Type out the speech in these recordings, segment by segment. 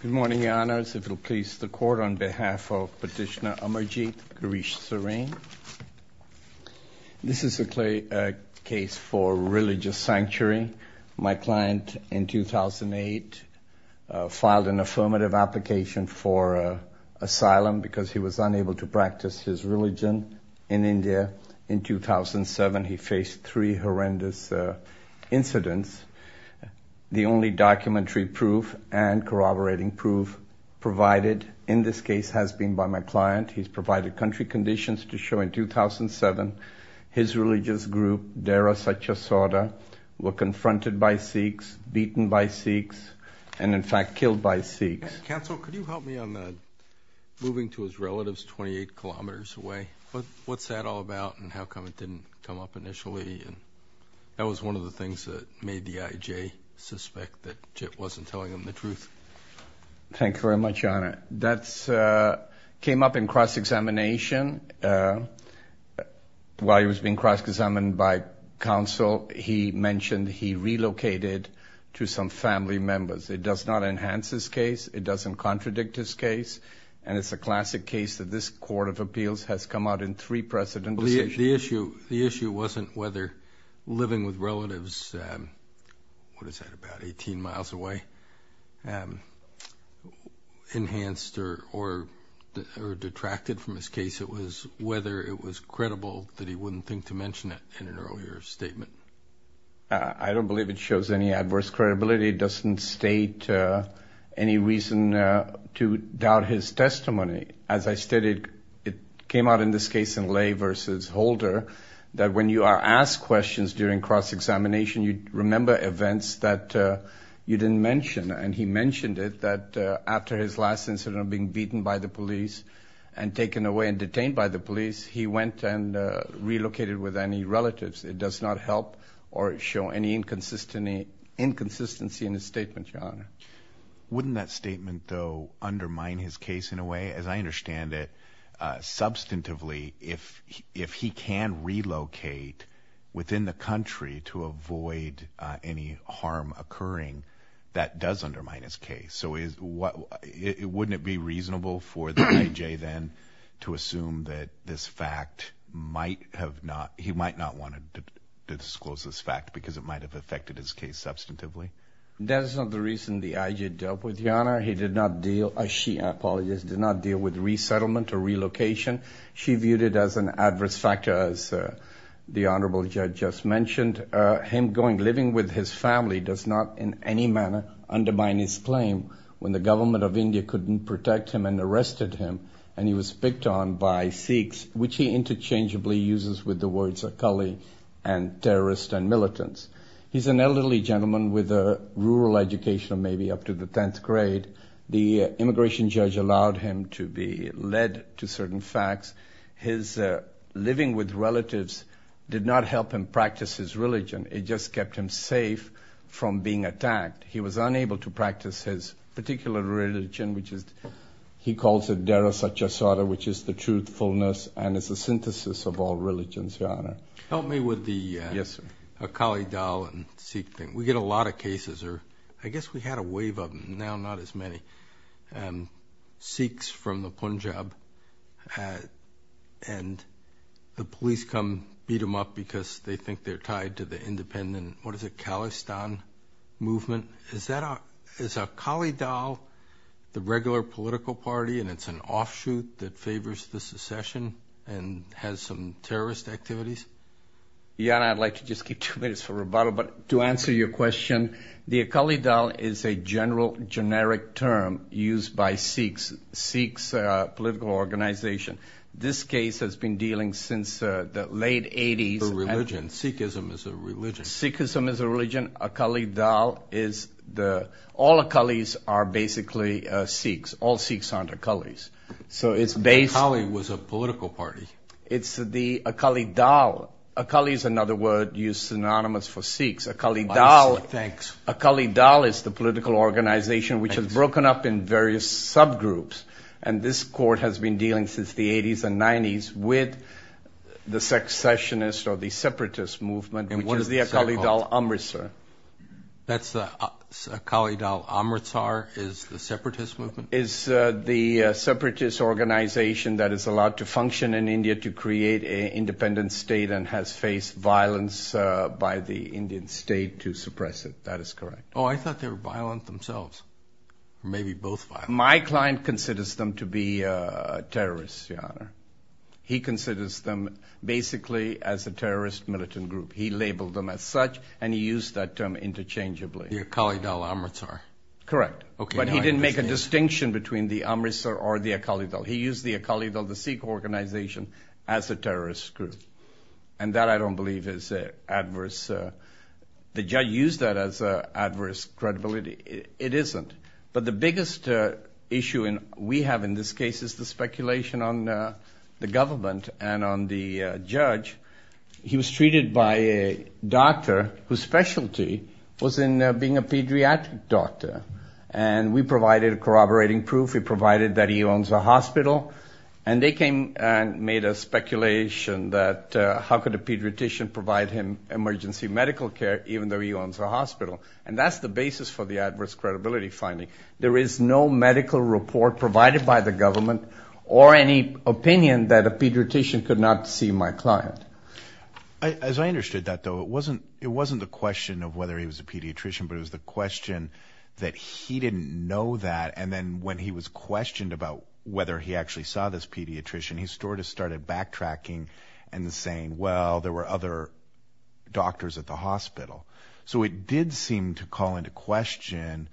Good morning, Your Honors. If it will please the Court, on behalf of Petitioner Amar Jit, Girish Sareen. This is a case for religious sanctuary. My client, in 2008, filed an affirmative application for asylum because he was unable to practice his religion in India. In 2007, he faced three horrendous incidents. The only documentary proof and corroborating proof provided in this case has been by my client. He's provided country conditions to show, in 2007, his religious group, Dera Sachasada, were confronted by Sikhs, beaten by Sikhs, and, in fact, killed by Sikhs. Counsel, could you help me on moving to his relatives 28 kilometers away? What's that all about, and how come it didn't come up initially? That was one of the things that made the IJ suspect that Jit wasn't telling them the truth. Thank you very much, Your Honor. That came up in cross-examination. While he was being cross-examined by counsel, he mentioned he relocated to some family members. It does not enhance his case. It doesn't contradict his case. And it's a classic case that this Court of Appeals has come out in three precedent decisions. The issue wasn't whether living with relatives, what is that, about 18 miles away, enhanced or detracted from his case. It was whether it was credible that he wouldn't think to mention it in an earlier statement. I don't believe it shows any adverse credibility. It doesn't state any reason to doubt his testimony. As I stated, it came out in this case in Ley v. Holder that when you are asked questions during cross-examination, you remember events that you didn't mention. And he mentioned it, that after his last incident of being beaten by the police and taken away and detained by the police, he went and relocated with any relatives. It does not help or show any inconsistency in his statement, Your Honor. Wouldn't that statement, though, undermine his case in a way? As I understand it, substantively, if he can relocate within the country to avoid any harm occurring, that does undermine his case. So wouldn't it be reasonable for the A.J. then to assume that this fact might have not, he might not want to disclose this fact because it might have affected his case substantively? That is not the reason the A.J. dealt with, Your Honor. He did not deal, she, I apologize, did not deal with resettlement or relocation. She viewed it as an adverse factor, as the Honorable Judge just mentioned. Him going, living with his family does not in any manner undermine his claim when the government of India couldn't protect him and arrested him and he was picked on by Sikhs, which he interchangeably uses with the words and terrorists and militants. He's an elderly gentleman with a rural education, maybe up to the 10th grade. The immigration judge allowed him to be led to certain facts. His living with relatives did not help him practice his religion. It just kept him safe from being attacked. He was unable to practice his particular religion, which is, he calls it Dara Satcharita, which is the truthfulness and it's a synthesis of all religions, Your Honor. Help me with the Akali Dal and Sikh thing. We get a lot of cases, or I guess we had a wave of them, now not as many, Sikhs from the Punjab and the police come, what is it, Khalistan movement? Is Akali Dal the regular political party and it's an offshoot that favors the secession and has some terrorist activities? Your Honor, I'd like to just keep two minutes for rebuttal, but to answer your question, the Akali Dal is a general generic term used by Sikhs, Sikhs political organization. This case has been dealing since the late 80s. For religion. Sikhism is a religion. Sikhism is a religion. Akali Dal is the, all Akalis are basically Sikhs. All Sikhs aren't Akalis. Akali was a political party. It's the Akali Dal. Akali is another word used synonymous for Sikhs. I see, thanks. Akali Dal is the political organization which has broken up in various subgroups. And this court has been dealing since the 80s and 90s with the secessionist or the separatist movement. And what is the Akali Dal Amritsar? That's the Akali Dal Amritsar is the separatist movement? Is the separatist organization that is allowed to function in India to create an independent state and has faced violence by the Indian state to suppress it. That is correct. Oh, I thought they were violent themselves. Maybe both. My client considers them to be terrorists, Your Honor. He considers them basically as a terrorist militant group. He labeled them as such and he used that term interchangeably. The Akali Dal Amritsar. Correct. But he didn't make a distinction between the Amritsar or the Akali Dal. He used the Akali Dal, the Sikh organization, as a terrorist group. And that I don't believe is adverse. The judge used that as adverse credibility. It isn't. But the biggest issue we have in this case is the speculation on the government and on the judge. He was treated by a doctor whose specialty was in being a pediatric doctor. And we provided corroborating proof. We provided that he owns a hospital. And they came and made a speculation that how could a pediatrician provide him emergency medical care even though he owns a hospital. And that's the basis for the adverse credibility finding. There is no medical report provided by the government or any opinion that a pediatrician could not see my client. As I understood that, though, it wasn't the question of whether he was a pediatrician. But it was the question that he didn't know that. And then when he was questioned about whether he actually saw this pediatrician, he sort of started backtracking and saying, well, there were other doctors at the hospital. So it did seem to call into question,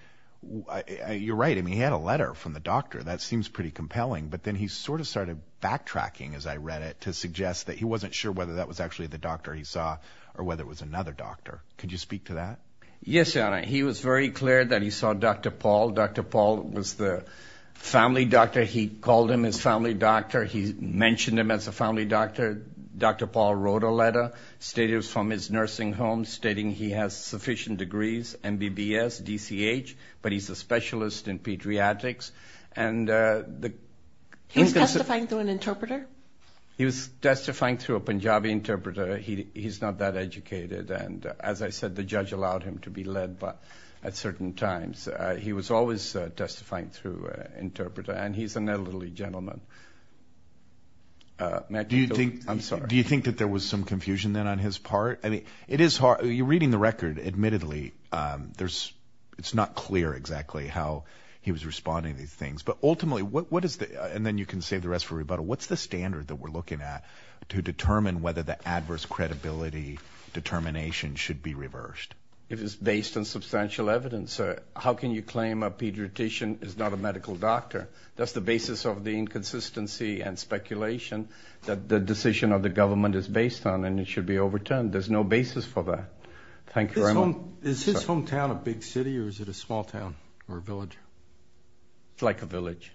you're right, he had a letter from the doctor. That seems pretty compelling. But then he sort of started backtracking, as I read it, to suggest that he wasn't sure whether that was actually the doctor he saw or whether it was another doctor. Could you speak to that? Yes. He was very clear that he saw Dr. Paul. Dr. Paul was the family doctor. He called him his family doctor. He mentioned him as a family doctor. Dr. Paul wrote a letter from his nursing home stating he has sufficient degrees, MBBS, DCH, but he's a specialist in pediatrics. He was testifying through an interpreter? He was testifying through a Punjabi interpreter. He's not that educated. And as I said, the judge allowed him to be led at certain times. He was always testifying through an interpreter. And he's an elderly gentleman. Do you think that there was some confusion then on his part? You're reading the record. Admittedly, it's not clear exactly how he was responding to these things. But ultimately, and then you can save the rest for rebuttal, what's the standard that we're looking at to determine whether the adverse credibility determination should be reversed? It is based on substantial evidence. How can you claim a pediatrician is not a medical doctor? That's the basis of the inconsistency and speculation that the decision of the government is based on, and it should be overturned. There's no basis for that. Thank you very much. Is his hometown a big city or is it a small town or a village? It's like a village.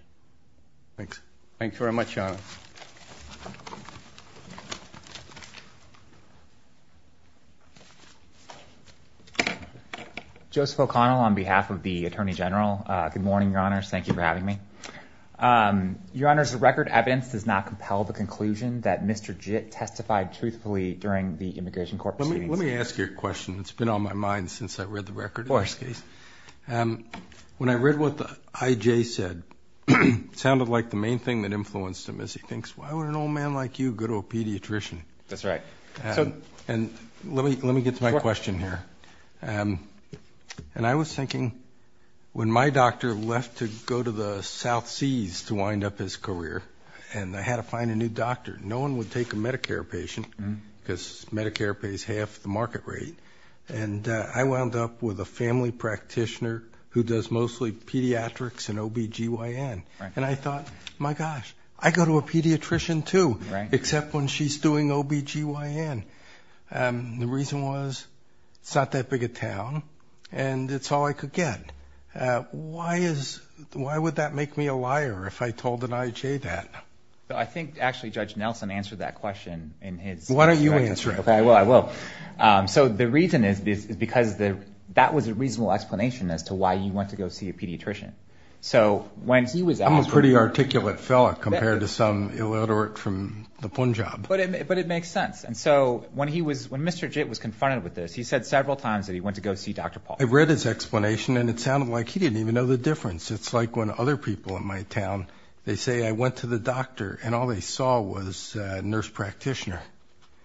Thanks. Thank you very much, Your Honor. Joseph O'Connell on behalf of the Attorney General. Good morning, Your Honor. Thank you for having me. Your Honor, the record evidence does not compel the conclusion that Mr. Jitt testified truthfully during the immigration court proceedings. Let me ask you a question. It's been on my mind since I read the record in this case. When I read what the IJ said, it sounded like the main thing that influenced him is he thinks, why would an old man like you go to a pediatrician? That's right. And let me get to my question here. And I was thinking when my doctor left to go to the South Seas to wind up his career and I had to find a new doctor, no one would take a Medicare patient because Medicare pays half the market rate. And I wound up with a family practitioner who does mostly pediatrics and OB-GYN. And I thought, my gosh, I go to a pediatrician too, except when she's doing OB-GYN. The reason was, it's not that big a town, and it's all I could get. Why would that make me a liar if I told an IJ that? I think actually Judge Nelson answered that question. Why don't you answer it? Okay, I will. So the reason is because that was a reasonable explanation as to why you went to go see a pediatrician. I'm a pretty articulate fellow compared to some illiterate from the Punjab. But it makes sense. And so when Mr. Jitt was confronted with this, he said several times that he went to go see Dr. Paul. I read his explanation, and it sounded like he didn't even know the difference. It's like when other people in my town, they say I went to the doctor, and all they saw was a nurse practitioner.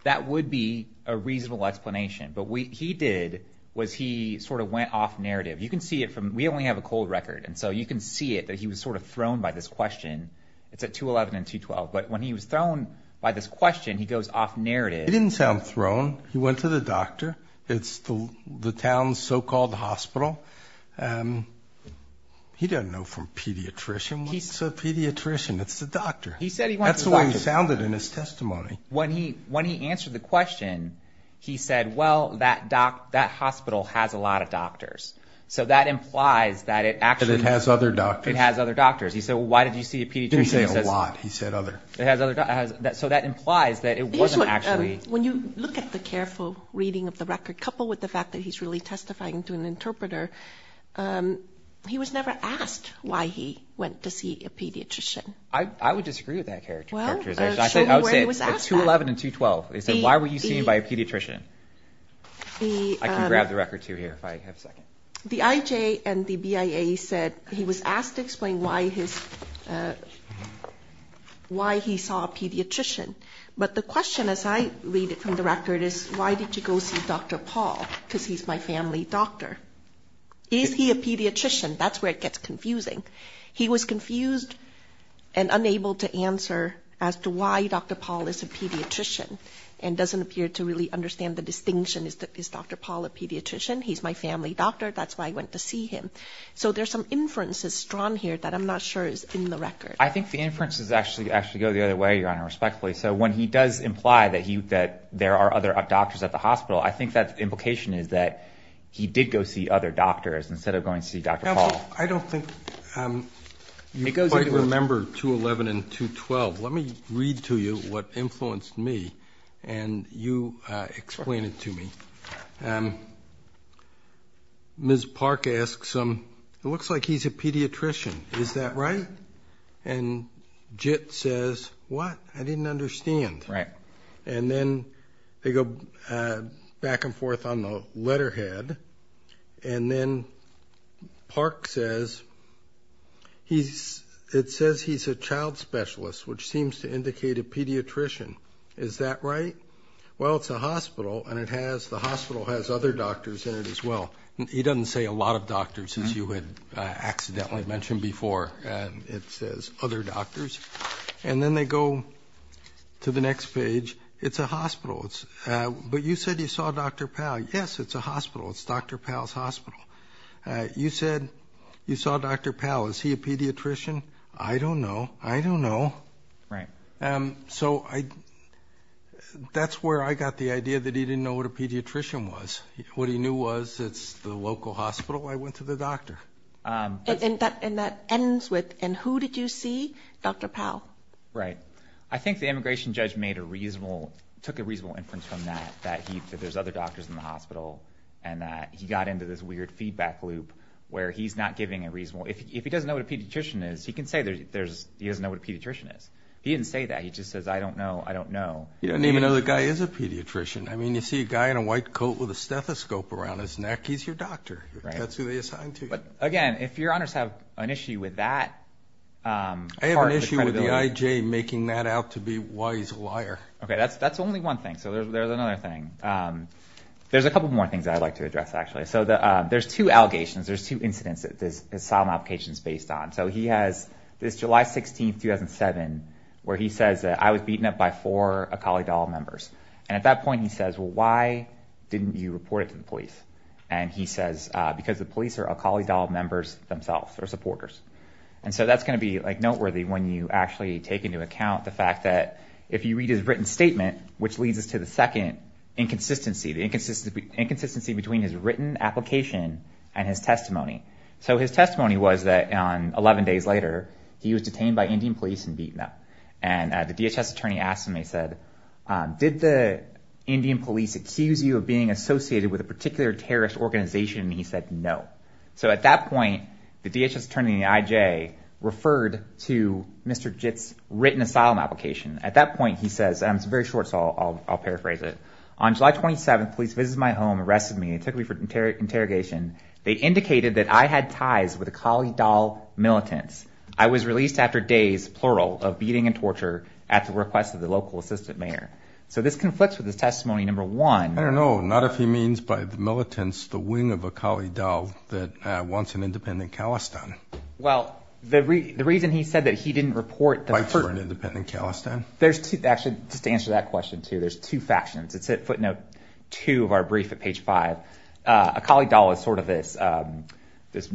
That would be a reasonable explanation. But what he did was he sort of went off narrative. You can see it from we only have a cold record, and so you can see it that he was sort of thrown by this question. It's at 211 and 212. But when he was thrown by this question, he goes off narrative. He didn't sound thrown. He went to the doctor. It's the town's so-called hospital. He doesn't know from pediatrician. It's a pediatrician. It's the doctor. He said he went to the doctor. That's the way he sounded in his testimony. When he answered the question, he said, well, that hospital has a lot of doctors. He said, well, why did you see a pediatrician? He didn't say a lot. He said other. So that implies that it wasn't actually. When you look at the careful reading of the record, coupled with the fact that he's really testifying to an interpreter, he was never asked why he went to see a pediatrician. I would disagree with that character. Well, show me where he was asked that. I would say at 211 and 212. He said, why were you seen by a pediatrician? I can grab the record, too, here, if I have a second. The IJ and the BIA said he was asked to explain why his, why he saw a pediatrician. But the question, as I read it from the record, is why did you go see Dr. Paul? Because he's my family doctor. Is he a pediatrician? That's where it gets confusing. He was confused and unable to answer as to why Dr. Paul is a pediatrician and doesn't appear to really understand the distinction. Is Dr. Paul a pediatrician? He's my family doctor. That's why I went to see him. So there's some inferences drawn here that I'm not sure is in the record. I think the inferences actually go the other way, Your Honor, respectfully. So when he does imply that there are other doctors at the hospital, I think that implication is that he did go see other doctors instead of going to see Dr. Paul. I don't think you quite remember 211 and 212. Let me read to you what influenced me and you explain it to me. Ms. Park asks him, it looks like he's a pediatrician, is that right? And Jit says, what? I didn't understand. Right. And then they go back and forth on the letterhead. And then Park says, it says he's a child specialist, which seems to indicate a pediatrician. Is that right? Well, it's a hospital, and the hospital has other doctors in it as well. He doesn't say a lot of doctors, as you had accidentally mentioned before. It says other doctors. And then they go to the next page. It's a hospital. But you said you saw Dr. Paul. Yes, it's a hospital. It's Dr. Paul's hospital. You said you saw Dr. Paul. Is he a pediatrician? I don't know. I don't know. Right. So that's where I got the idea that he didn't know what a pediatrician was. What he knew was it's the local hospital. I went to the doctor. And that ends with, and who did you see? Dr. Paul. Right. I think the immigration judge made a reasonable, took a reasonable inference from that, that there's other doctors in the hospital, and that he got into this weird feedback loop where he's not giving a reasonable, if he doesn't know what a pediatrician is, he can say he doesn't know what a pediatrician is. He didn't say that. He just says, I don't know, I don't know. He doesn't even know the guy is a pediatrician. I mean, you see a guy in a white coat with a stethoscope around his neck, he's your doctor. That's who they assign to you. But, again, if your honors have an issue with that part of the credibility. The AIJ making that out to be why he's a liar. Okay, that's only one thing. So there's another thing. There's a couple more things I'd like to address, actually. So there's two allegations, there's two incidents that this asylum application is based on. So he has this July 16, 2007, where he says that I was beaten up by four Akali Dahl members. And at that point he says, well, why didn't you report it to the police? And he says, because the police are Akali Dahl members themselves, or supporters. And so that's going to be noteworthy when you actually take into account the fact that if you read his written statement, which leads us to the second inconsistency, the inconsistency between his written application and his testimony. So his testimony was that 11 days later he was detained by Indian police and beaten up. And the DHS attorney asked him, he said, did the Indian police accuse you of being associated with a particular terrorist organization? And he said, no. So at that point, the DHS attorney and the IJ referred to Mr. Jitt's written asylum application. At that point he says, and it's very short, so I'll paraphrase it. On July 27, police visited my home, arrested me, and took me for interrogation. They indicated that I had ties with Akali Dahl militants. I was released after days, plural, of beating and torture at the request of the local assistant mayor. So this conflicts with his testimony, number one. I don't know, not if he means by the militants, the wing of Akali Dahl that wants an independent Kalestan. Well, the reason he said that he didn't report the first- Fights for an independent Kalestan. Actually, just to answer that question, too, there's two factions. It's footnote two of our brief at page five. Akali Dahl is sort of this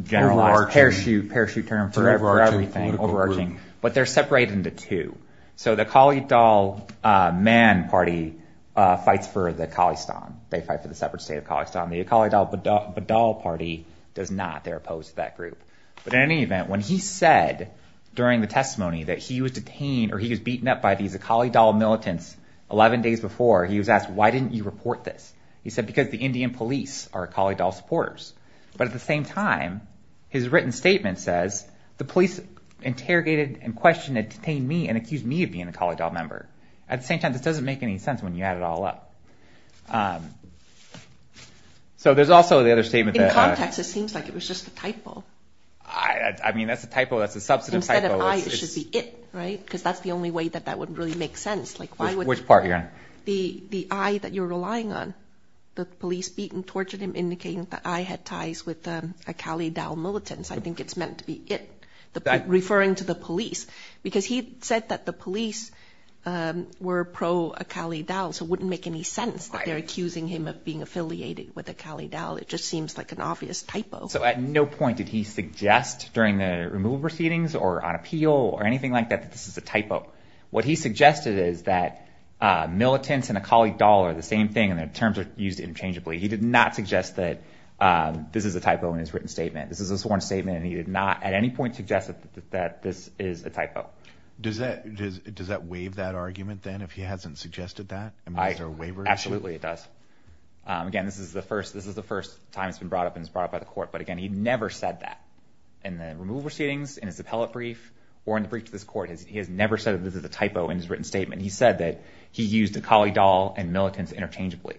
generalized parachute term for everything, overarching. But they're separated into two. So the Akali Dahl Man Party fights for the Kalestan. They fight for the separate state of Kalestan. The Akali Dahl Badal Party does not. They're opposed to that group. But in any event, when he said during the testimony that he was detained or he was beaten up by these Akali Dahl militants 11 days before, he was asked, why didn't you report this? He said, because the Indian police are Akali Dahl supporters. But at the same time, his written statement says, the police interrogated and questioned and detained me and accused me of being an Akali Dahl member. At the same time, this doesn't make any sense when you add it all up. So there's also the other statement that- In context, it seems like it was just a typo. I mean, that's a typo. That's a substantive typo. Instead of I, it should be it, right? Because that's the only way that that would really make sense. Like, why would- Which part, Your Honor? The I that you're relying on, the police beat and tortured him, indicating that I had ties with Akali Dahl militants. I think it's meant to be it, referring to the police, because he said that the police were pro-Akali Dahl, so it wouldn't make any sense that they're accusing him of being affiliated with Akali Dahl. It just seems like an obvious typo. So at no point did he suggest during the removal proceedings or on appeal or anything like that that this is a typo. What he suggested is that militants and Akali Dahl are the same thing and their terms are used interchangeably. He did not suggest that this is a typo in his written statement. This is a sworn statement, and he did not at any point suggest that this is a typo. Does that waive that argument then, if he hasn't suggested that? I mean, is there a waiver issue? Absolutely, it does. Again, this is the first time it's been brought up and it's brought up by the court. But, again, he never said that in the removal proceedings, in his appellate brief, or in the brief to this court. He has never said that this is a typo in his written statement. He said that he used Akali Dahl and militants interchangeably.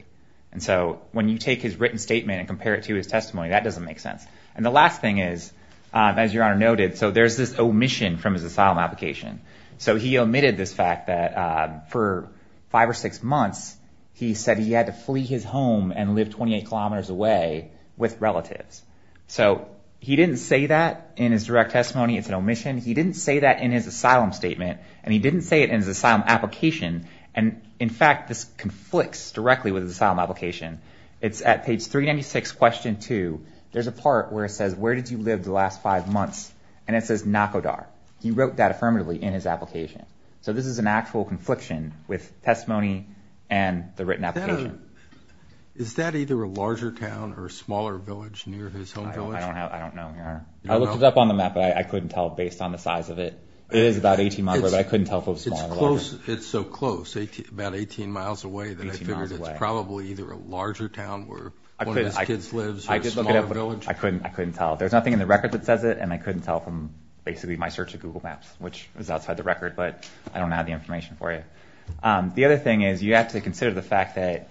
And so when you take his written statement and compare it to his testimony, that doesn't make sense. And the last thing is, as Your Honor noted, so there's this omission from his asylum application. So he omitted this fact that for five or six months he said he had to flee his home and live 28 kilometers away with relatives. So he didn't say that in his direct testimony. It's an omission. He didn't say that in his asylum statement. And he didn't say it in his asylum application. And, in fact, this conflicts directly with his asylum application. It's at page 396, question 2. There's a part where it says, where did you live the last five months? And it says Nakodar. He wrote that affirmatively in his application. So this is an actual confliction with testimony and the written application. Is that either a larger town or a smaller village near his home village? I don't know, Your Honor. I looked it up on the map, but I couldn't tell based on the size of it. It is about 18 miles away, but I couldn't tell if it was smaller or larger. It's close. It's so close, about 18 miles away, that I figured it's probably either a larger town where one of his kids lives or a smaller village. I couldn't tell. There's nothing in the record that says it, and I couldn't tell from basically my search of Google Maps, which is outside the record. But I don't have the information for you. The other thing is you have to consider the fact that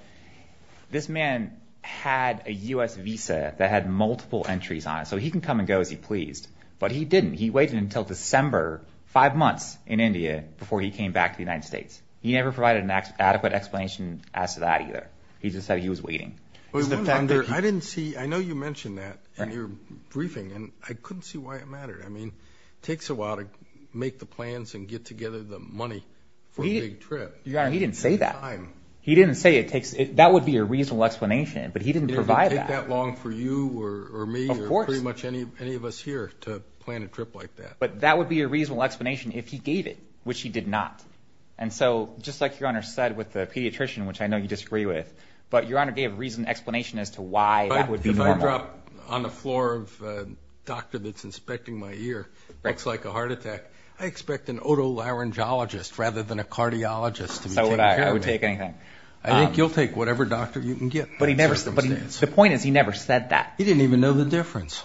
this man had a U.S. visa that had multiple entries on it. So he can come and go as he pleased. But he didn't. He waited until December, five months in India, before he came back to the United States. He never provided an adequate explanation as to that either. He just said he was waiting. I know you mentioned that in your briefing, and I couldn't see why it mattered. I mean, it takes a while to make the plans and get together the money for a big trip. He didn't say that. He didn't say that would be a reasonable explanation, but he didn't provide that. It wouldn't take that long for you or me or pretty much any of us here to plan a trip like that. But that would be a reasonable explanation if he gave it, which he did not. And so, just like Your Honor said with the pediatrician, which I know you disagree with, but Your Honor gave a reasonable explanation as to why that would be normal. If I drop on the floor of a doctor that's inspecting my ear, looks like a heart attack, I expect an otolaryngologist rather than a cardiologist to be taking care of me. So would I. I would take anything. I think you'll take whatever doctor you can get. But he never said that. The point is he never said that. He didn't even know the difference.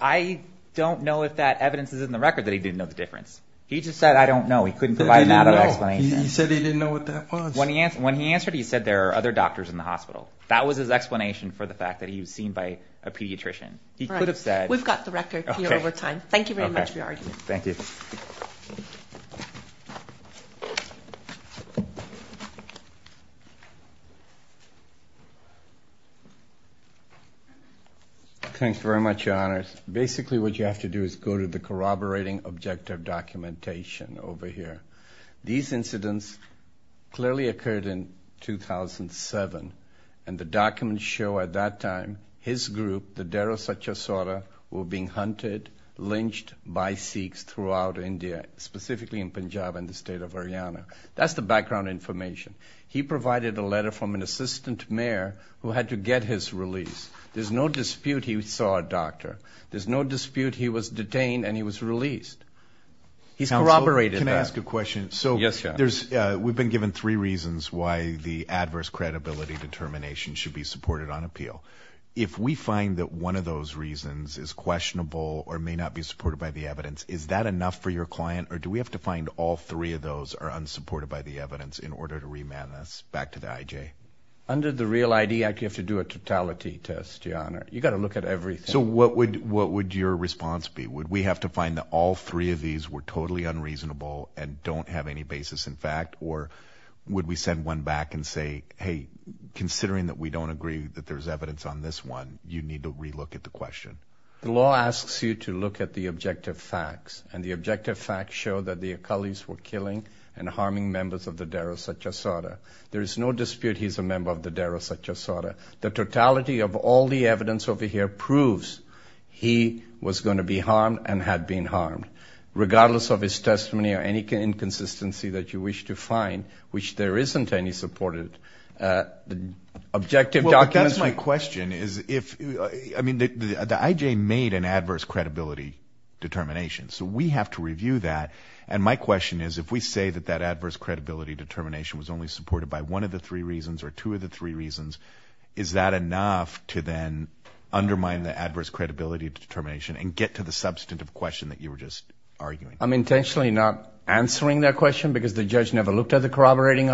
I don't know if that evidence is in the record that he didn't know the difference. He just said, I don't know. He couldn't provide an out-of-the-box explanation. He said he didn't know what that was. When he answered, he said there are other doctors in the hospital. That was his explanation for the fact that he was seen by a pediatrician. We've got the record here over time. Thank you very much for your argument. Thank you. Thanks very much, Your Honors. Basically, what you have to do is go to the corroborating objective documentation over here. These incidents clearly occurred in 2007, and the documents show at that time his group, the Dero Satya Sauta, were being hunted, lynched by Sikhs throughout India, specifically in Punjab and the state of Haryana. That's the background information. He provided a letter from an assistant mayor who had to get his release. There's no dispute he saw a doctor. There's no dispute he was detained and he was released. He's corroborated that. Counsel, can I ask a question? Yes, Your Honor. We've been given three reasons why the adverse credibility determination should be supported on appeal. If we find that one of those reasons is questionable or may not be supported by the evidence, is that enough for your client, or do we have to find all three of those are unsupported by the evidence in order to remand this back to the IJ? Under the Real ID Act, you have to do a totality test, Your Honor. You've got to look at everything. So what would your response be? Would we have to find that all three of these were totally unreasonable and don't have any basis in fact, or would we send one back and say, hey, considering that we don't agree that there's evidence on this one, you need to relook at the question? The law asks you to look at the objective facts, and the objective facts show that the Akalis were killing and harming members of the Deira Satyasata. There is no dispute he's a member of the Deira Satyasata. The totality of all the evidence over here proves he was going to be harmed and had been harmed. Regardless of his testimony or any inconsistency that you wish to find, which there isn't any supported, the objective documents would be ---- Well, but that's my question is if, I mean, the IJ made an adverse credibility determination. So we have to review that, and my question is if we say that that adverse credibility determination was only supported by one of the three reasons or two of the three reasons, is that enough to then undermine the adverse credibility determination and get to the substantive question that you were just arguing? I'm intentionally not answering that question because the judge never looked at the corroborating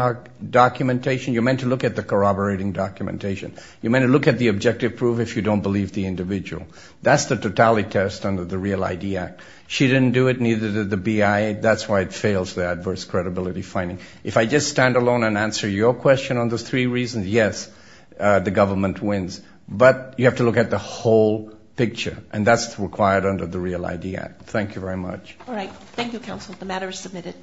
documentation. You're meant to look at the corroborating documentation. You're meant to look at the objective proof if you don't believe the individual. That's the totality test under the Real ID Act. She didn't do it, neither did the BI. That's why it fails the adverse credibility finding. If I just stand alone and answer your question on those three reasons, yes, the government wins. But you have to look at the whole picture, and that's required under the Real ID Act. Thank you very much. All right. Thank you, counsel. The matter is submitted.